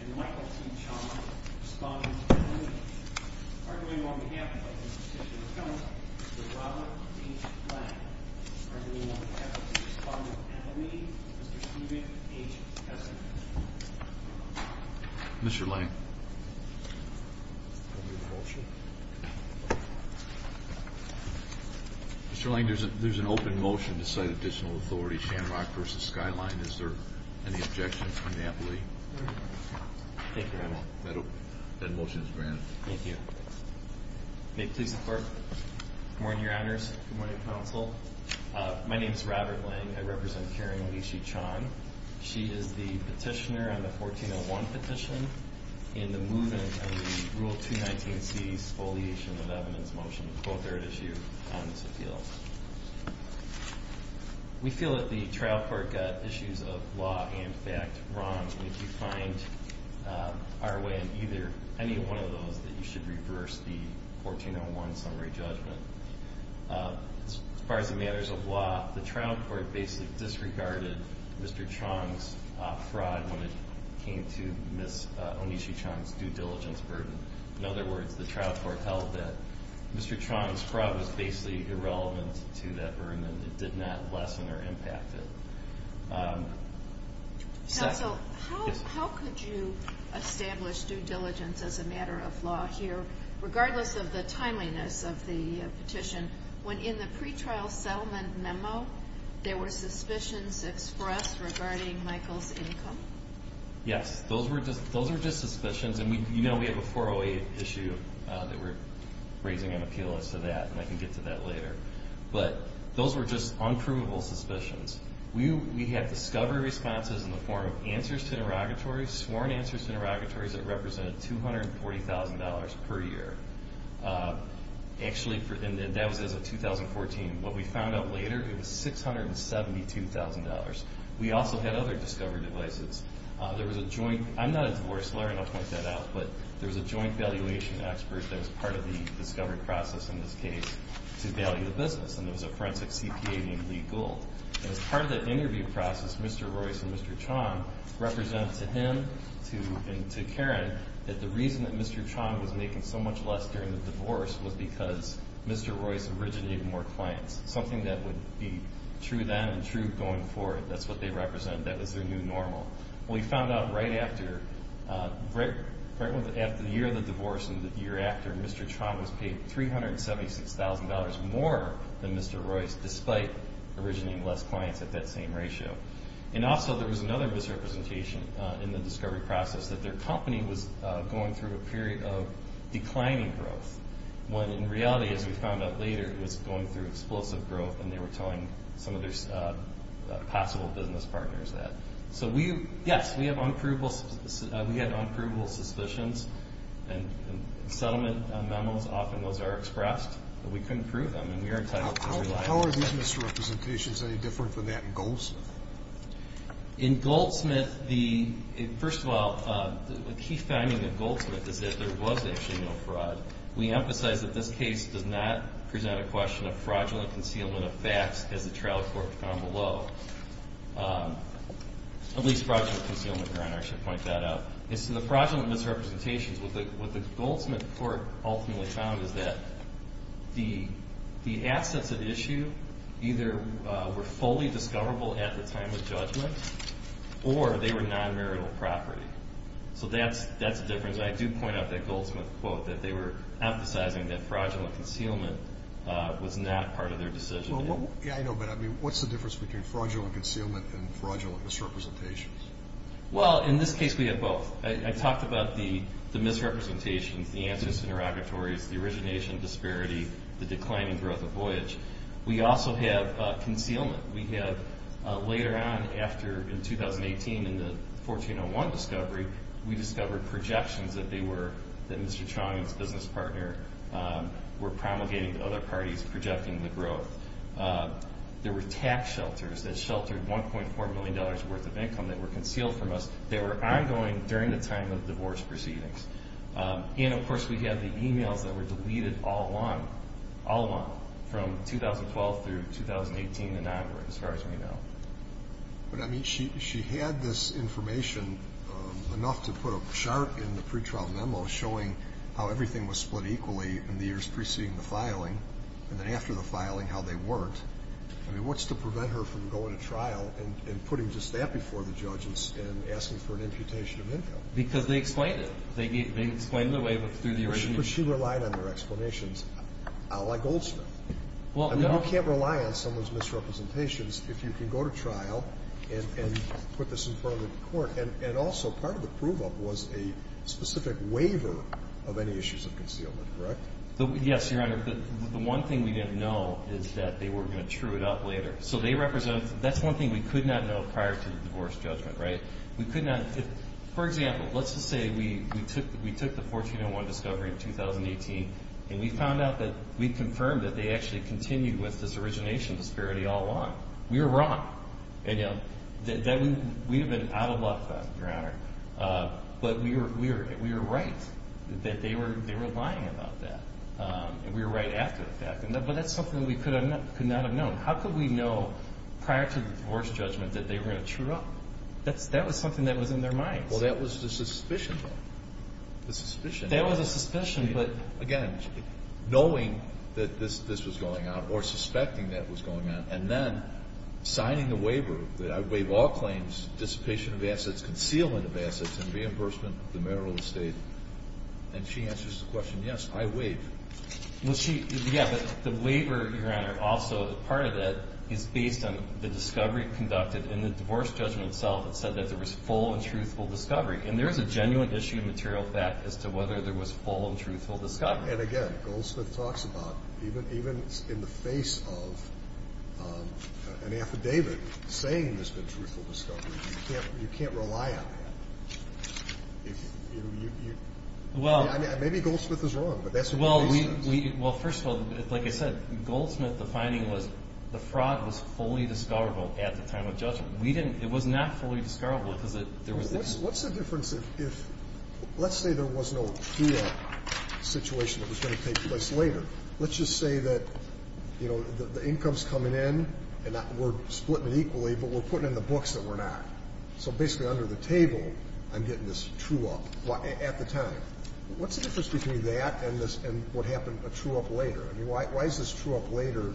and Michael T. Chong responding to the meeting. Arguing on behalf of the petitioner's counsel, Mr. Robert H. Lange. Arguing on behalf of the respondent at the meeting, Mr. Stephen H. Hessen. Mr. Hessen. Mr. Hessen. Mr. Lange, there's an open motion to cite additional authority. Shanrock versus Skyline. Is there any objection from NAPLI? Thank you, Your Honor. That motion is granted. Thank you. May it please the Court. Good morning, Your Honors. Good morning, Counsel. My name is Robert Lange. I represent Karen Onishi-Chong. She is the petitioner on the 1401 petition in the movement of the Rule 219C Spoliation of Evidence motion. Both are at issue on this appeal. We feel that the trial court got issues of law and fact wrong, and if you find our way in either, any one of those, that you should reverse the 1401 summary judgment. As far as the matters of law, the trial court basically disregarded Mr. Chong's fraud when it came to Ms. Onishi-Chong's due diligence burden. In other words, the trial court held that Mr. Chong's fraud was basically irrelevant to that burden. It did not lessen or impact it. Counsel, how could you establish due diligence as a matter of law here, regardless of the timeliness of the petition, when in the pretrial settlement memo there were suspicions expressed regarding Michael's income? Yes, those were just suspicions, and you know we have a 408 issue that we're raising an appeal as to that, and I can get to that later. But those were just unprovable suspicions. We had discovery responses in the form of answers to interrogatories, sworn answers to interrogatories that represented $240,000 per year. And that was as of 2014. What we found out later, it was $672,000. We also had other discovery devices. There was a joint, I'm not a divorce lawyer, and I'll point that out, but there was a joint valuation expert that was part of the discovery process in this case to value the business. And there was a forensic CPA named Lee Gould. And as part of that interview process, Mr. Royce and Mr. Chong represented to him and to Karen that the reason that Mr. Chong was making so much less during the divorce was because Mr. Royce originated more clients, something that would be true then and true going forward. That's what they represent. That was their new normal. We found out right after the year of the divorce and the year after, Mr. Chong was paid $376,000 more than Mr. Royce, despite originating less clients at that same ratio. And also there was another misrepresentation in the discovery process that their company was going through a period of declining growth, when in reality, as we found out later, it was going through explosive growth, and they were telling some of their possible business partners that. So yes, we have unprovable suspicions. And settlement memos, often those are expressed, but we couldn't prove them, and we are entitled to rely on that. In Goldsmith, first of all, a key finding in Goldsmith is that there was actually no fraud. We emphasize that this case does not present a question of fraudulent concealment of facts, as the trial court found below. At least fraudulent concealment, I should point that out. The fraudulent misrepresentations, what the Goldsmith court ultimately found is that the assets at issue either were fully discoverable at the time of judgment, or they were non-marital property. So that's a difference, and I do point out that Goldsmith quote, that they were emphasizing that fraudulent concealment was not part of their decision. Yeah, I know, but what's the difference between fraudulent concealment and fraudulent misrepresentations? Well, in this case we had both. I talked about the misrepresentations, the answers to interrogatories, the origination disparity, the declining growth of voyage. We also have concealment. Later on after, in 2018, in the 1401 discovery, we discovered projections that they were, that Mr. Chong's business partner were promulgating to other parties, projecting the growth. There were tax shelters that sheltered $1.4 million worth of income that were concealed from us that were ongoing during the time of divorce proceedings. And, of course, we have the emails that were deleted all along, all along, from 2012 through 2018 and onward, as far as we know. But, I mean, she had this information enough to put a chart in the pretrial memo showing how everything was split equally in the years preceding the filing, and then after the filing how they worked. I mean, what's to prevent her from going to trial and putting just that before the judges and asking for an imputation of income? Because they explained it. They explained it through the origination. Well, she relied on her explanations, a la Goldsmith. I mean, you can't rely on someone's misrepresentations if you can go to trial and put this in front of the court. And also, part of the prove-up was a specific waiver of any issues of concealment, correct? Yes, Your Honor. The one thing we didn't know is that they were going to true it up later. That's one thing we could not know prior to the divorce judgment, right? For example, let's just say we took the 1401 discovery in 2018 and we found out that we confirmed that they actually continued with this origination disparity all along. We were wrong. We would have been out of luck then, Your Honor. But we were right that they were lying about that. We were right after the fact. But that's something we could not have known. How could we know prior to the divorce judgment that they were going to true up? That was something that was in their minds. Well, that was the suspicion. Again, knowing that this was going on, or suspecting that was going on, and then signing the waiver that I waive all claims, dissipation of assets, concealment of assets, and reimbursement of the marital estate. And she answers the question, yes, I waive. Yeah, but the waiver, Your Honor, also part of it is based on the discovery conducted in the divorce judgment itself that said that there was full and truthful discovery. And there is a genuine issue of material fact as to whether there was full and truthful discovery. And again, Goldsmith talks about even in the face of an affidavit saying there's been truthful discovery, you can't rely on that. Maybe Goldsmith is wrong, but that's what Goldsmith says. Well, first of all, like I said, Goldsmith, the finding was the fraud was fully discoverable at the time of judgment. It was not fully discoverable. What's the difference if, let's say there was no true up situation that was going to take place later. Let's just say that the income is coming in, and we're splitting it equally, but we're putting in the books that we're not. So basically under the table, I'm getting this true up at the time. What's the difference between that and what happened, a true up later? I mean, why is this true up later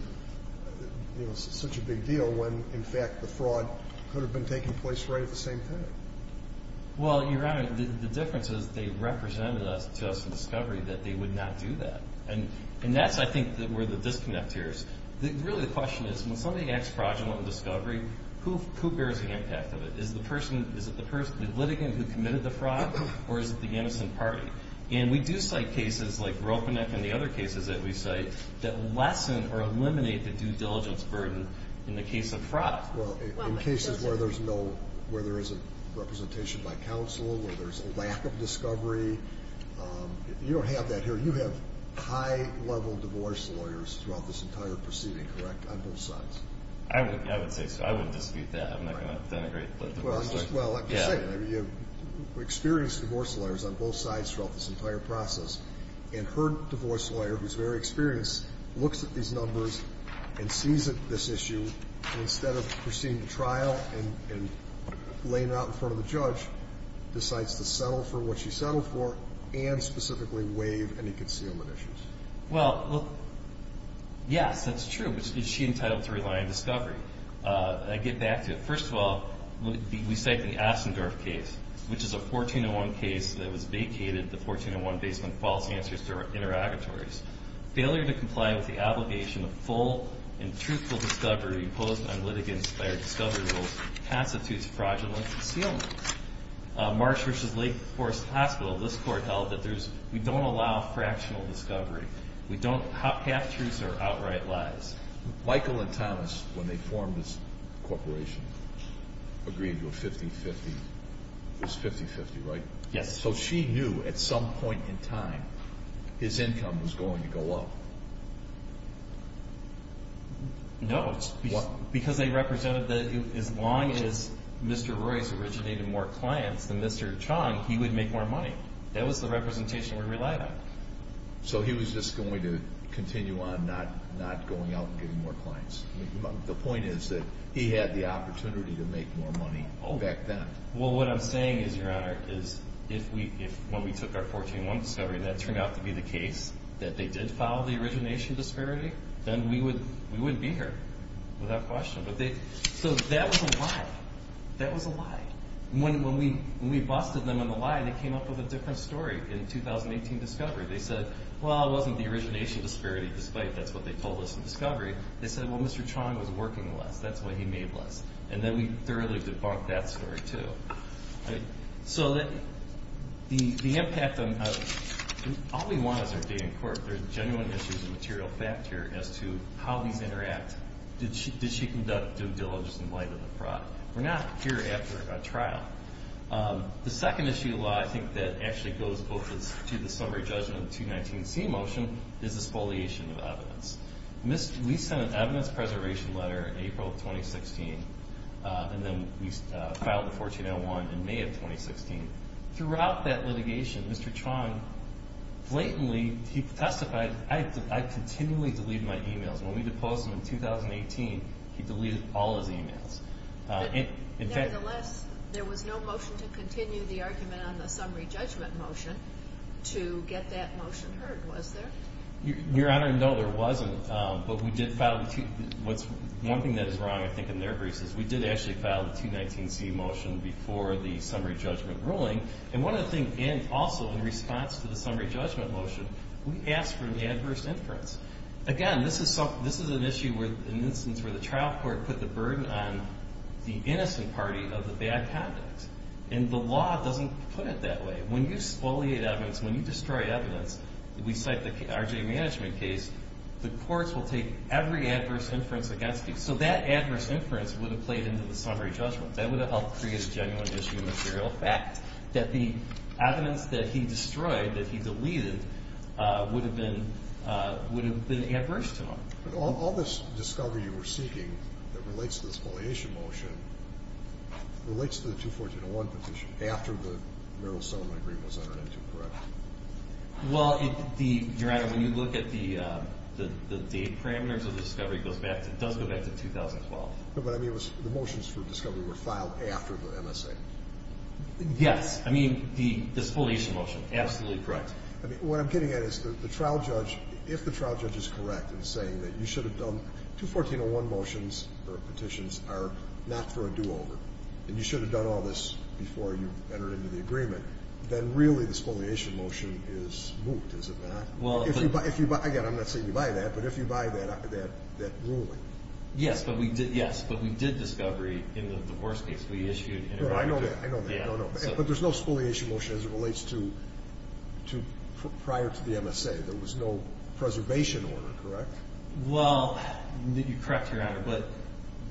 such a big deal when, in fact, the fraud could have been taking place right at the same time? Well, Your Honor, the difference is they represented to us in discovery that they would not do that. And that's, I think, where the disconnect here is. Really the question is when somebody acts fraudulent in discovery, who bears the impact of it? Is it the litigant who committed the fraud, or is it the innocent party? And we do cite cases like Ropeneck and the other cases that we cite that lessen or eliminate the due diligence burden in the case of fraud. Well, in cases where there is a representation by counsel, where there's a lack of discovery, you don't have that here. You have high-level divorce lawyers throughout this entire proceeding, correct, on both sides? I would say so. I wouldn't dispute that. I'm not going to denigrate the divorce lawyers. Well, I'm just saying, you have experienced divorce lawyers on both sides throughout this entire process. And her divorce lawyer, who's very experienced, looks at these numbers and sees this issue. And instead of proceeding to trial and laying it out in front of the judge, decides to settle for what she settled for and specifically waive any concealment issues. Well, yes, that's true. But is she entitled to rely on discovery? I get back to it. First of all, we cite the Ossendorf case, which is a 1401 case that was vacated, the 1401 based on false answers to her interrogatories. Failure to comply with the obligation of full and truthful discovery imposed on litigants by her discovery rules constitutes fraudulent concealment. Marsh v. Lake Forest Hospital, this court held that we don't allow fractional discovery. Half-truths are outright lies. Michael and Thomas, when they formed this corporation, agreed to a 50-50. It was 50-50, right? Yes. So she knew at some point in time his income was going to go up. No. Why? Because they represented that as long as Mr. Royce originated more clients than Mr. Chong, he would make more money. That was the representation we relied on. So he was just going to continue on not going out and getting more clients. The point is that he had the opportunity to make more money back then. Well, what I'm saying is, Your Honor, is if when we took our 1401 discovery that turned out to be the case, that they did follow the origination disparity, then we wouldn't be here without question. So that was a lie. That was a lie. When we busted them on the lie, they came up with a different story in the 2018 discovery. They said, well, it wasn't the origination disparity, despite that's what they told us in discovery. They said, well, Mr. Chong was working less. That's why he made less. And then we thoroughly debunked that story, too. So the impact on evidence. All we want is our data in court. There's genuine issues of material fact here as to how these interact. Did she conduct due diligence in light of the fraud? We're not here after a trial. The second issue of law I think that actually goes to the summary judgment of the 219C motion is the spoliation of evidence. We sent an evidence preservation letter in April of 2016, and then we filed the 1401 in May of 2016. Throughout that litigation, Mr. Chong blatantly testified, I continually delete my e-mails. When we deposed him in 2018, he deleted all his e-mails. Nevertheless, there was no motion to continue the argument on the summary judgment motion to get that motion heard, was there? Your Honor, no, there wasn't. But we did file the 219C. One thing that is wrong, I think, in their case is we did actually file the 219C motion before the summary judgment ruling. And one other thing, and also in response to the summary judgment motion, we asked for an adverse inference. Again, this is an issue, an instance where the trial court put the burden on the innocent party of the bad conduct. And the law doesn't put it that way. When you spoliate evidence, when you destroy evidence, we cite the R.J. Management case, the courts will take every adverse inference against you. So that adverse inference would have played into the summary judgment. That would have helped create a genuine issue of material fact, that the evidence that he destroyed, that he deleted, would have been adverse to him. All this discovery you were seeking that relates to the spoliation motion relates to the 214.01 petition after the Meryl Sondland agreement was entered into, correct? Well, Your Honor, when you look at the date parameters of the discovery, it does go back to 2012. But I mean, the motions for discovery were filed after the MSA. Yes. I mean, the spoliation motion, absolutely correct. I mean, what I'm getting at is the trial judge, if the trial judge is correct in saying that you should have done 214.01 motions or petitions are not for a do-over, and you should have done all this before you entered into the agreement, then really the spoliation motion is moot, is it not? Again, I'm not saying you buy that. But if you buy that ruling. Yes, but we did discovery in the worst case. We issued an error. I know that. I know that. But there's no spoliation motion as it relates to prior to the MSA. There was no preservation order, correct? Well, you're correct, Your Honor. But,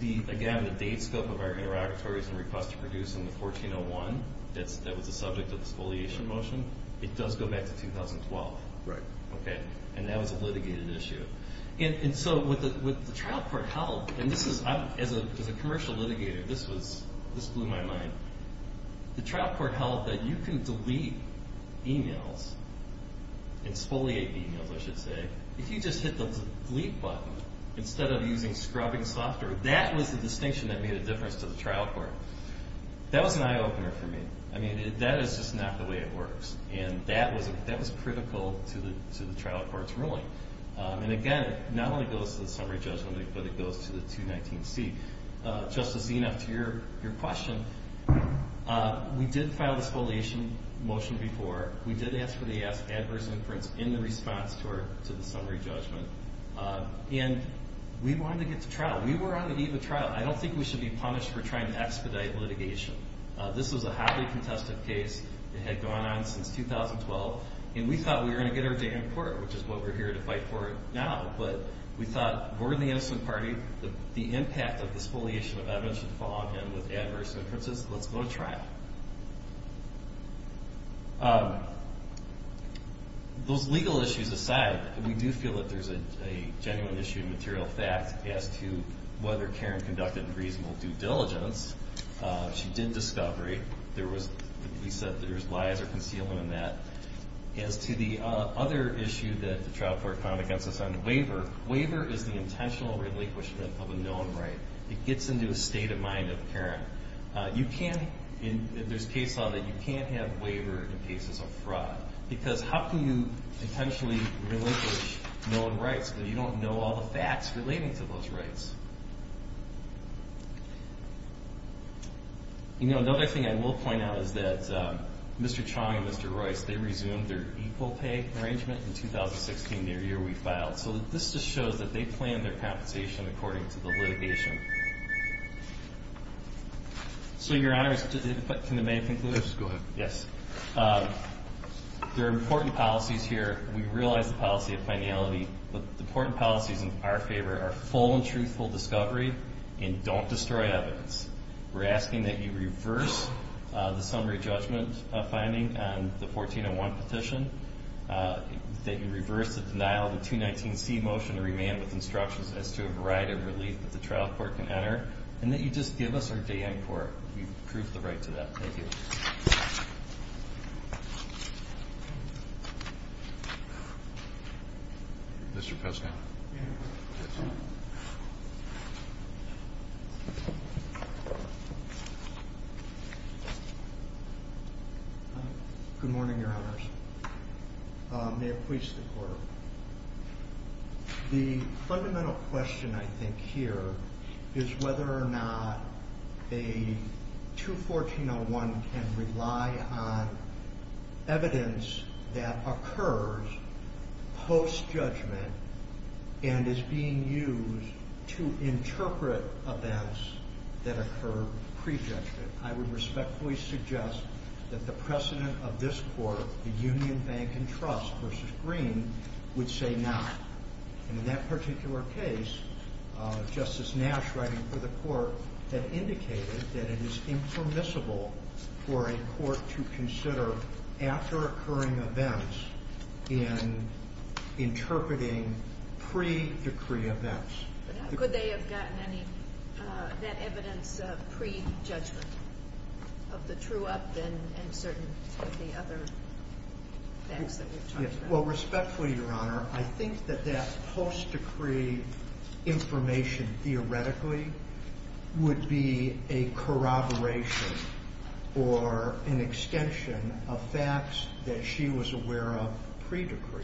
again, the date scope of our interrogatories and requests to produce in the 1401 that was the subject of the spoliation motion, it does go back to 2012. Right. Okay? And that was a litigated issue. And so what the trial court held, and this is, as a commercial litigator, this blew my mind. The trial court held that you can delete e-mails and spoliate e-mails, I should say, if you just hit the delete button instead of using scrubbing software. That was the distinction that made a difference to the trial court. That was an eye-opener for me. I mean, that is just not the way it works. And that was critical to the trial court's ruling. And, again, it not only goes to the summary judgment, but it goes to the 219C. Justice Enum, to your question, we did file the spoliation motion before. We did ask for the adverse inference in the response to the summary judgment. And we wanted to get to trial. We were on the eve of trial. I don't think we should be punished for trying to expedite litigation. This was a hotly contested case. It had gone on since 2012. And we thought we were going to get our day in court, which is what we're here to fight for now. But we thought, we're in the innocent party. The impact of the spoliation of evidence should fall on him with adverse inferences. Let's go to trial. Those legal issues aside, we do feel that there's a genuine issue of material fact as to whether Karen conducted reasonable due diligence. She did discovery. We said there was lies or concealment in that. As to the other issue that the trial court found against us on the waiver, waiver is the intentional relinquishment of a known right. It gets into a state of mind of Karen. There's case law that you can't have waiver in cases of fraud. Because how can you intentionally relinquish known rights when you don't know all the facts relating to those rights? You know, another thing I will point out is that Mr. Chong and Mr. Royce, they resumed their equal pay arrangement in 2016, their year we filed. So this just shows that they planned their compensation according to the litigation. So, Your Honors, can I make a conclusion? Yes, go ahead. Yes. There are important policies here. We realize the policy of finality. But the important policies in our favor are full and truthful discovery and don't destroy evidence. We're asking that you reverse the summary judgment finding on the 1401 petition, that you reverse the denial of the 219C motion to remand with instructions as to a variety of relief that the trial court can enter, and that you just give us our day in court. You've proved the right to that. Thank you. Mr. Peskin. Good morning, Your Honors. The fundamental question, I think, here is whether or not a 214-01 can rely on evidence that occurs post-judgment and is being used to interpret events that occur pre-judgment. I would respectfully suggest that the precedent of this court, the Union Bank and Trust v. Green, would say no. And in that particular case, Justice Nash, writing for the court, had indicated that it is impermissible for a court to consider after-occurring events in interpreting pre-decree events. Could they have gotten that evidence of pre-judgment, of the true up and certain of the other facts that we've talked about? Well, respectfully, Your Honor, I think that that post-decree information, theoretically, would be a corroboration or an extension of facts that she was aware of pre-decree.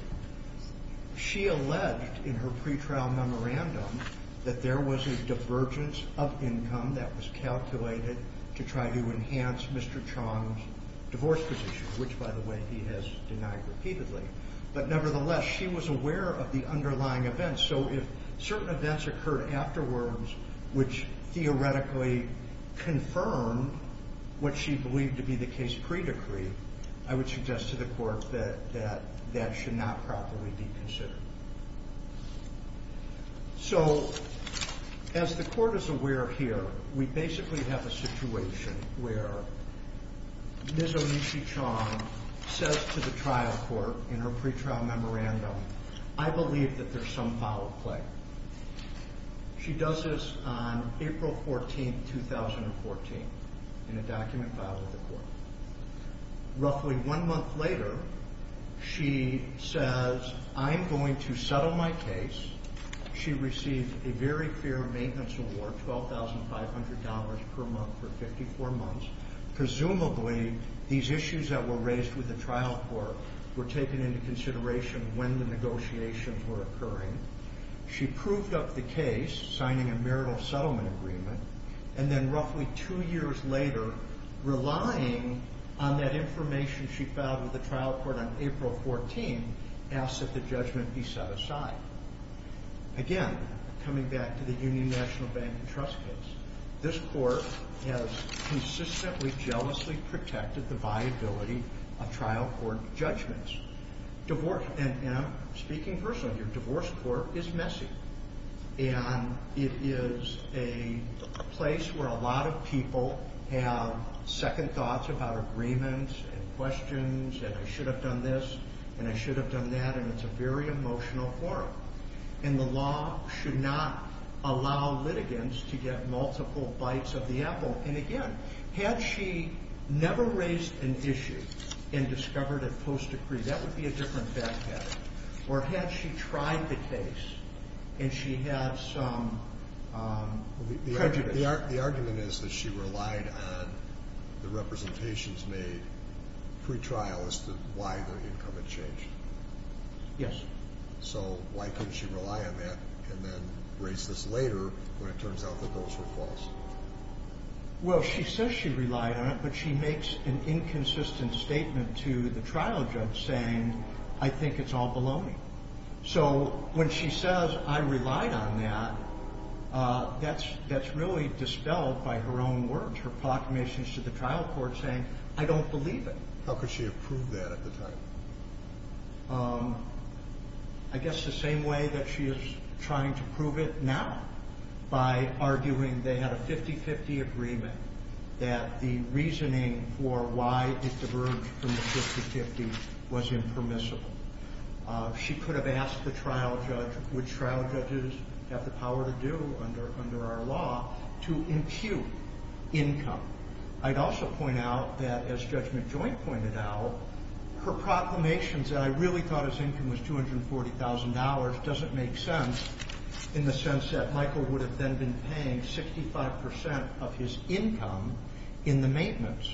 She alleged in her pretrial memorandum that there was a divergence of income that was calculated to try to enhance Mr. Chong's divorce position, which, by the way, he has denied repeatedly. But, nevertheless, she was aware of the underlying events. So if certain events occurred afterwards, which theoretically confirmed what she believed to be the case pre-decree, I would suggest to the court that that should not properly be considered. So, as the court is aware here, we basically have a situation where Ms. Onishi Chong says to the trial court in her pretrial memorandum, I believe that there's some foul play. She does this on April 14, 2014, in a document filed with the court. Roughly one month later, she says, I'm going to settle my case. She received a very fair maintenance award, $12,500 per month for 54 months. Presumably, these issues that were raised with the trial court were taken into consideration when the negotiations were occurring. She proved up the case, signing a marital settlement agreement. And then roughly two years later, relying on that information she filed with the trial court on April 14, asked that the judgment be set aside. Again, coming back to the Union National Bank and Trust case, this court has consistently, jealously protected the viability of trial court judgments. And speaking personally, your divorce court is messy. And it is a place where a lot of people have second thoughts about agreements and questions, and I should have done this, and I should have done that, and it's a very emotional forum. And the law should not allow litigants to get multiple bites of the apple. And again, had she never raised an issue and discovered it post-decree, that would be a different fact pattern. Or had she tried the case and she had some prejudice? The argument is that she relied on the representations made pre-trial as to why the income had changed. Yes. So why couldn't she rely on that and then raise this later when it turns out that those were false? Well, she says she relied on it, but she makes an inconsistent statement to the trial judge saying, I think it's all baloney. So when she says, I relied on that, that's really dispelled by her own words, her proclamations to the trial court saying, I don't believe it. How could she have proved that at the time? I guess the same way that she is trying to prove it now by arguing they had a 50-50 agreement, that the reasoning for why it diverged from the 50-50 was impermissible. She could have asked the trial judge, which trial judges have the power to do under our law, to impute income. I'd also point out that, as Judge McJoint pointed out, her proclamations that I really thought his income was $240,000 doesn't make sense in the sense that Michael would have then been paying 65% of his income in the maintenance.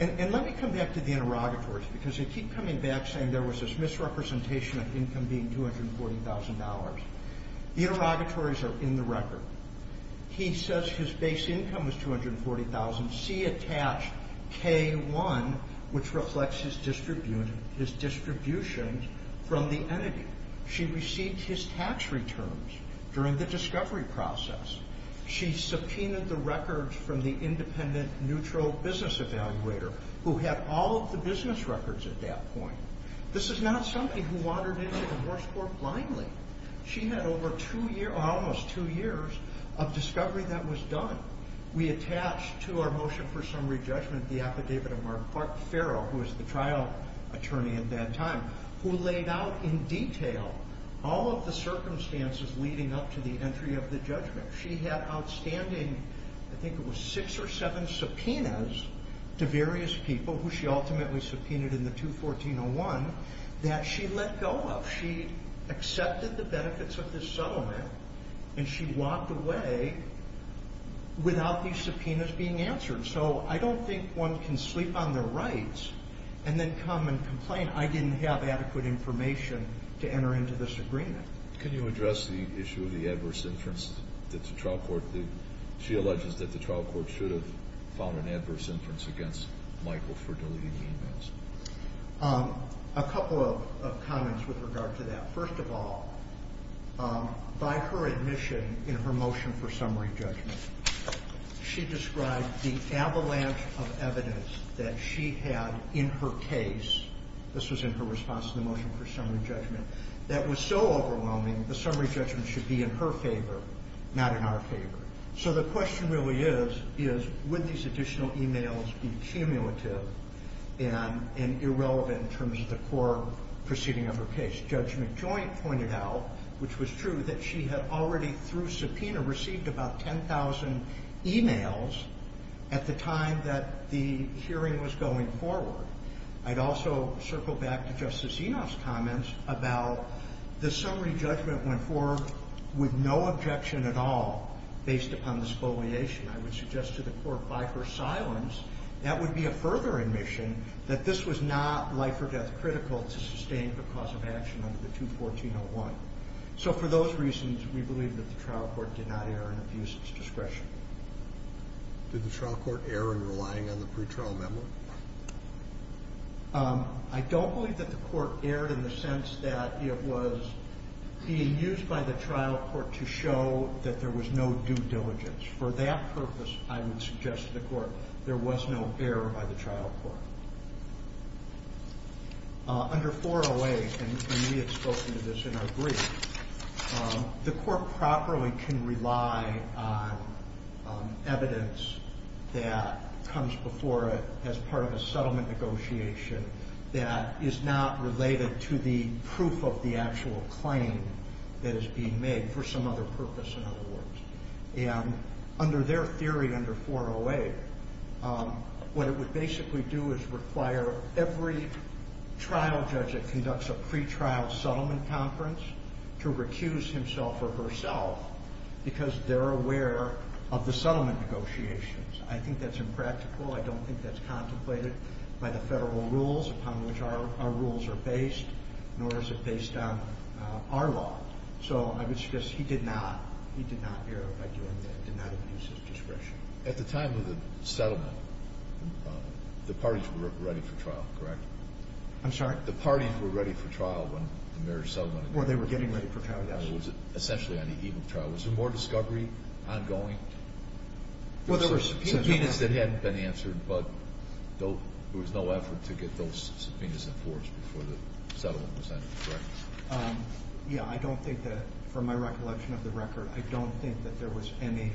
And let me come back to the interrogatories, because they keep coming back saying there was this misrepresentation of income being $240,000. The interrogatories are in the record. He says his base income was $240,000. See attached K-1, which reflects his distribution from the entity. She received his tax returns during the discovery process. She subpoenaed the records from the independent, neutral business evaluator, who had all of the business records at that point. This is not somebody who wandered into the horse court blindly. She had over two years, or almost two years, of discovery that was done. We attached to our motion for summary judgment the affidavit of Martin Farrell, who was the trial attorney at that time, who laid out in detail all of the circumstances leading up to the entry of the judgment. She had outstanding, I think it was six or seven subpoenas to various people, who she ultimately subpoenaed in the 214-01, that she let go of. She accepted the benefits of this settlement, and she walked away without these subpoenas being answered. So I don't think one can sleep on their rights and then come and complain, I didn't have adequate information to enter into this agreement. Can you address the issue of the adverse inference that the trial court did? She alleges that the trial court should have found an adverse inference against Michael for deleting the emails. A couple of comments with regard to that. First of all, by her admission in her motion for summary judgment, she described the avalanche of evidence that she had in her case, this was in her response to the motion for summary judgment, that was so overwhelming the summary judgment should be in her favor, not in our favor. So the question really is, would these additional emails be cumulative and irrelevant in terms of the core proceeding of her case? Judge McJoint pointed out, which was true, that she had already through subpoena received about 10,000 emails at the time that the hearing was going forward. I'd also circle back to Justice Enoff's comments about the summary judgment went forward with no objection at all based upon the spoliation. I would suggest to the court by her silence that would be a further admission that this was not life or death critical to sustain the cause of action under the 214-01. So for those reasons, we believe that the trial court did not err and abuse its discretion. Did the trial court err in relying on the pretrial memo? I don't believe that the court erred in the sense that it was being used by the trial court to show that there was no due diligence. For that purpose, I would suggest to the court there was no error by the trial court. Under 408, and we had spoken to this in our brief, the court properly can rely on evidence that comes before it as part of a settlement negotiation that is not related to the proof of the actual claim that is being made for some other purpose, in other words. Under their theory under 408, what it would basically do is require every trial judge that conducts a pretrial settlement conference to recuse himself or herself because they're aware of the settlement negotiations. I think that's impractical. I don't think that's contemplated by the federal rules upon which our rules are based, nor is it based on our law. So I would suggest he did not err by doing that, did not abuse his discretion. At the time of the settlement, the parties were ready for trial, correct? I'm sorry? The parties were ready for trial when the marriage settlement was completed. Well, they were getting ready for trial, yes. It was essentially an even trial. Was there more discovery ongoing? Well, there were subpoenas that hadn't been answered, but there was no effort to get those subpoenas enforced before the settlement was ended, correct? Yeah, I don't think that, from my recollection of the record, I don't think that there was any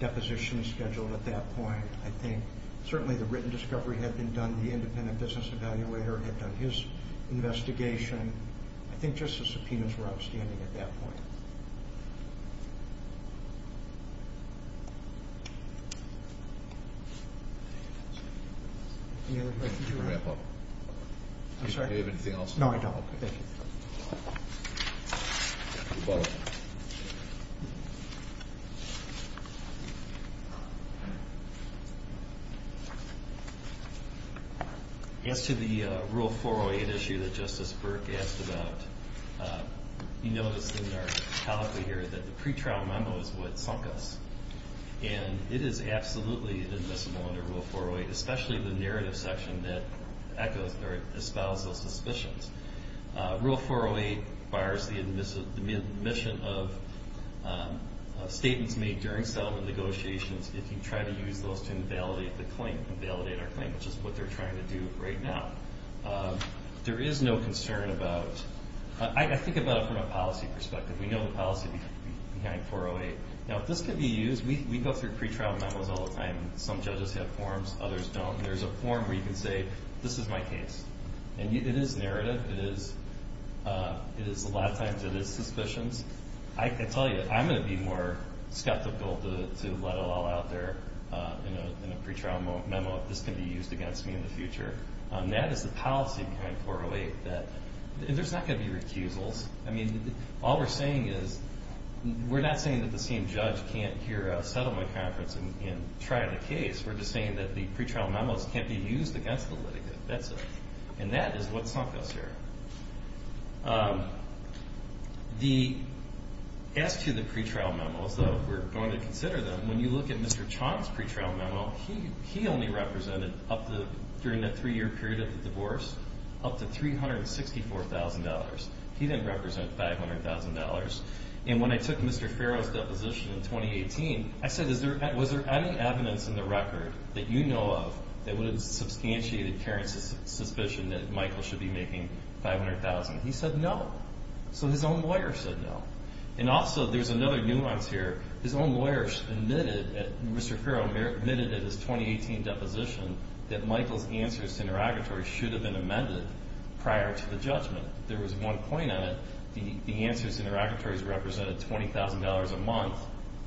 deposition scheduled at that point. I think certainly the written discovery had been done. The independent business evaluator had done his investigation. I think just the subpoenas were outstanding at that point. Any other questions? I'm sorry, do you have anything else? No, I don't. Okay. As to the Rule 408 issue that Justice Burke asked about, you notice in our tally here that the pretrial memo is what sunk us, and it is absolutely inadmissible under Rule 408, especially the narrative section that echos or espouses those suspicions. Rule 408 bars the admission of statements made during settlement negotiations if you try to use those to invalidate the claim, invalidate our claim, which is what they're trying to do right now. There is no concern about, I think about it from a policy perspective. We know the policy behind 408. Now, if this could be used, we go through pretrial memos all the time. Some judges have forms, others don't. There's a form where you can say, this is my case. It is narrative. A lot of times it is suspicions. I tell you, I'm going to be more skeptical to let it all out there in a pretrial memo if this can be used against me in the future. That is the policy behind 408. There's not going to be recusals. All we're saying is we're not saying that the same judge can't hear a settlement conference and try the case. We're just saying that the pretrial memos can't be used against the litigant. That's it. And that is what sunk us here. As to the pretrial memos, though, we're going to consider them. When you look at Mr. Chong's pretrial memo, he only represented during the three-year period of the divorce up to $364,000. He didn't represent $500,000. And when I took Mr. Farrow's deposition in 2018, I said, was there any evidence in the record that you know of that would have substantiated Karen's suspicion that Michael should be making $500,000? He said no. So his own lawyer said no. And also there's another nuance here. His own lawyer admitted, Mr. Farrow admitted in his 2018 deposition, that Michael's answers to interrogatory should have been amended prior to the judgment. There was one point on it. The answers to interrogatories represented $20,000 a month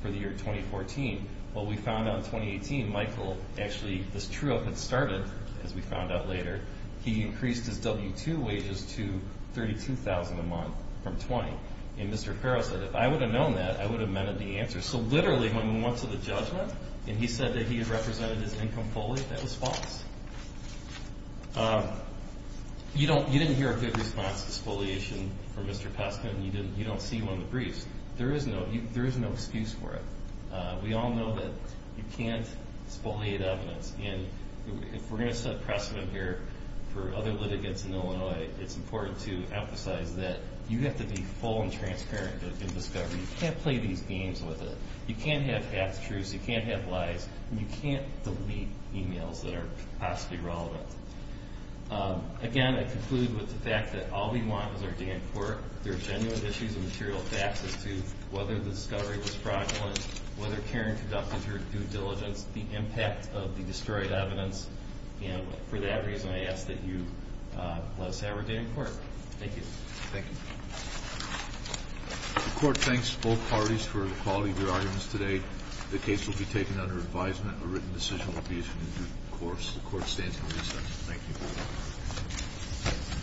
for the year 2014. Well, we found out in 2018, Michael actually, this true up had started, as we found out later, he increased his W-2 wages to $32,000 a month from $20,000. And Mr. Farrow said, if I would have known that, I would have amended the answer. So literally when we went to the judgment and he said that he had represented his income fully, that was false. You didn't hear a good response to spoliation from Mr. Postman. You don't see one of the briefs. There is no excuse for it. We all know that you can't spoliate evidence. And if we're going to set precedent here for other litigants in Illinois, it's important to emphasize that you have to be full and transparent in discovery. You can't play these games with it. You can't have half-truths. You can't have lies. And you can't delete e-mails that are possibly relevant. Again, I conclude with the fact that all we want is our day in court. There are genuine issues and material facts as to whether the discovery was fraudulent, whether Karen conducted her due diligence, the impact of the destroyed evidence. And for that reason, I ask that you let us have our day in court. Thank you. Thank you. The Court thanks both parties for the quality of your arguments today. The case will be taken under advisement. A written decision will be issued in due course. The Court stands in recess. Thank you.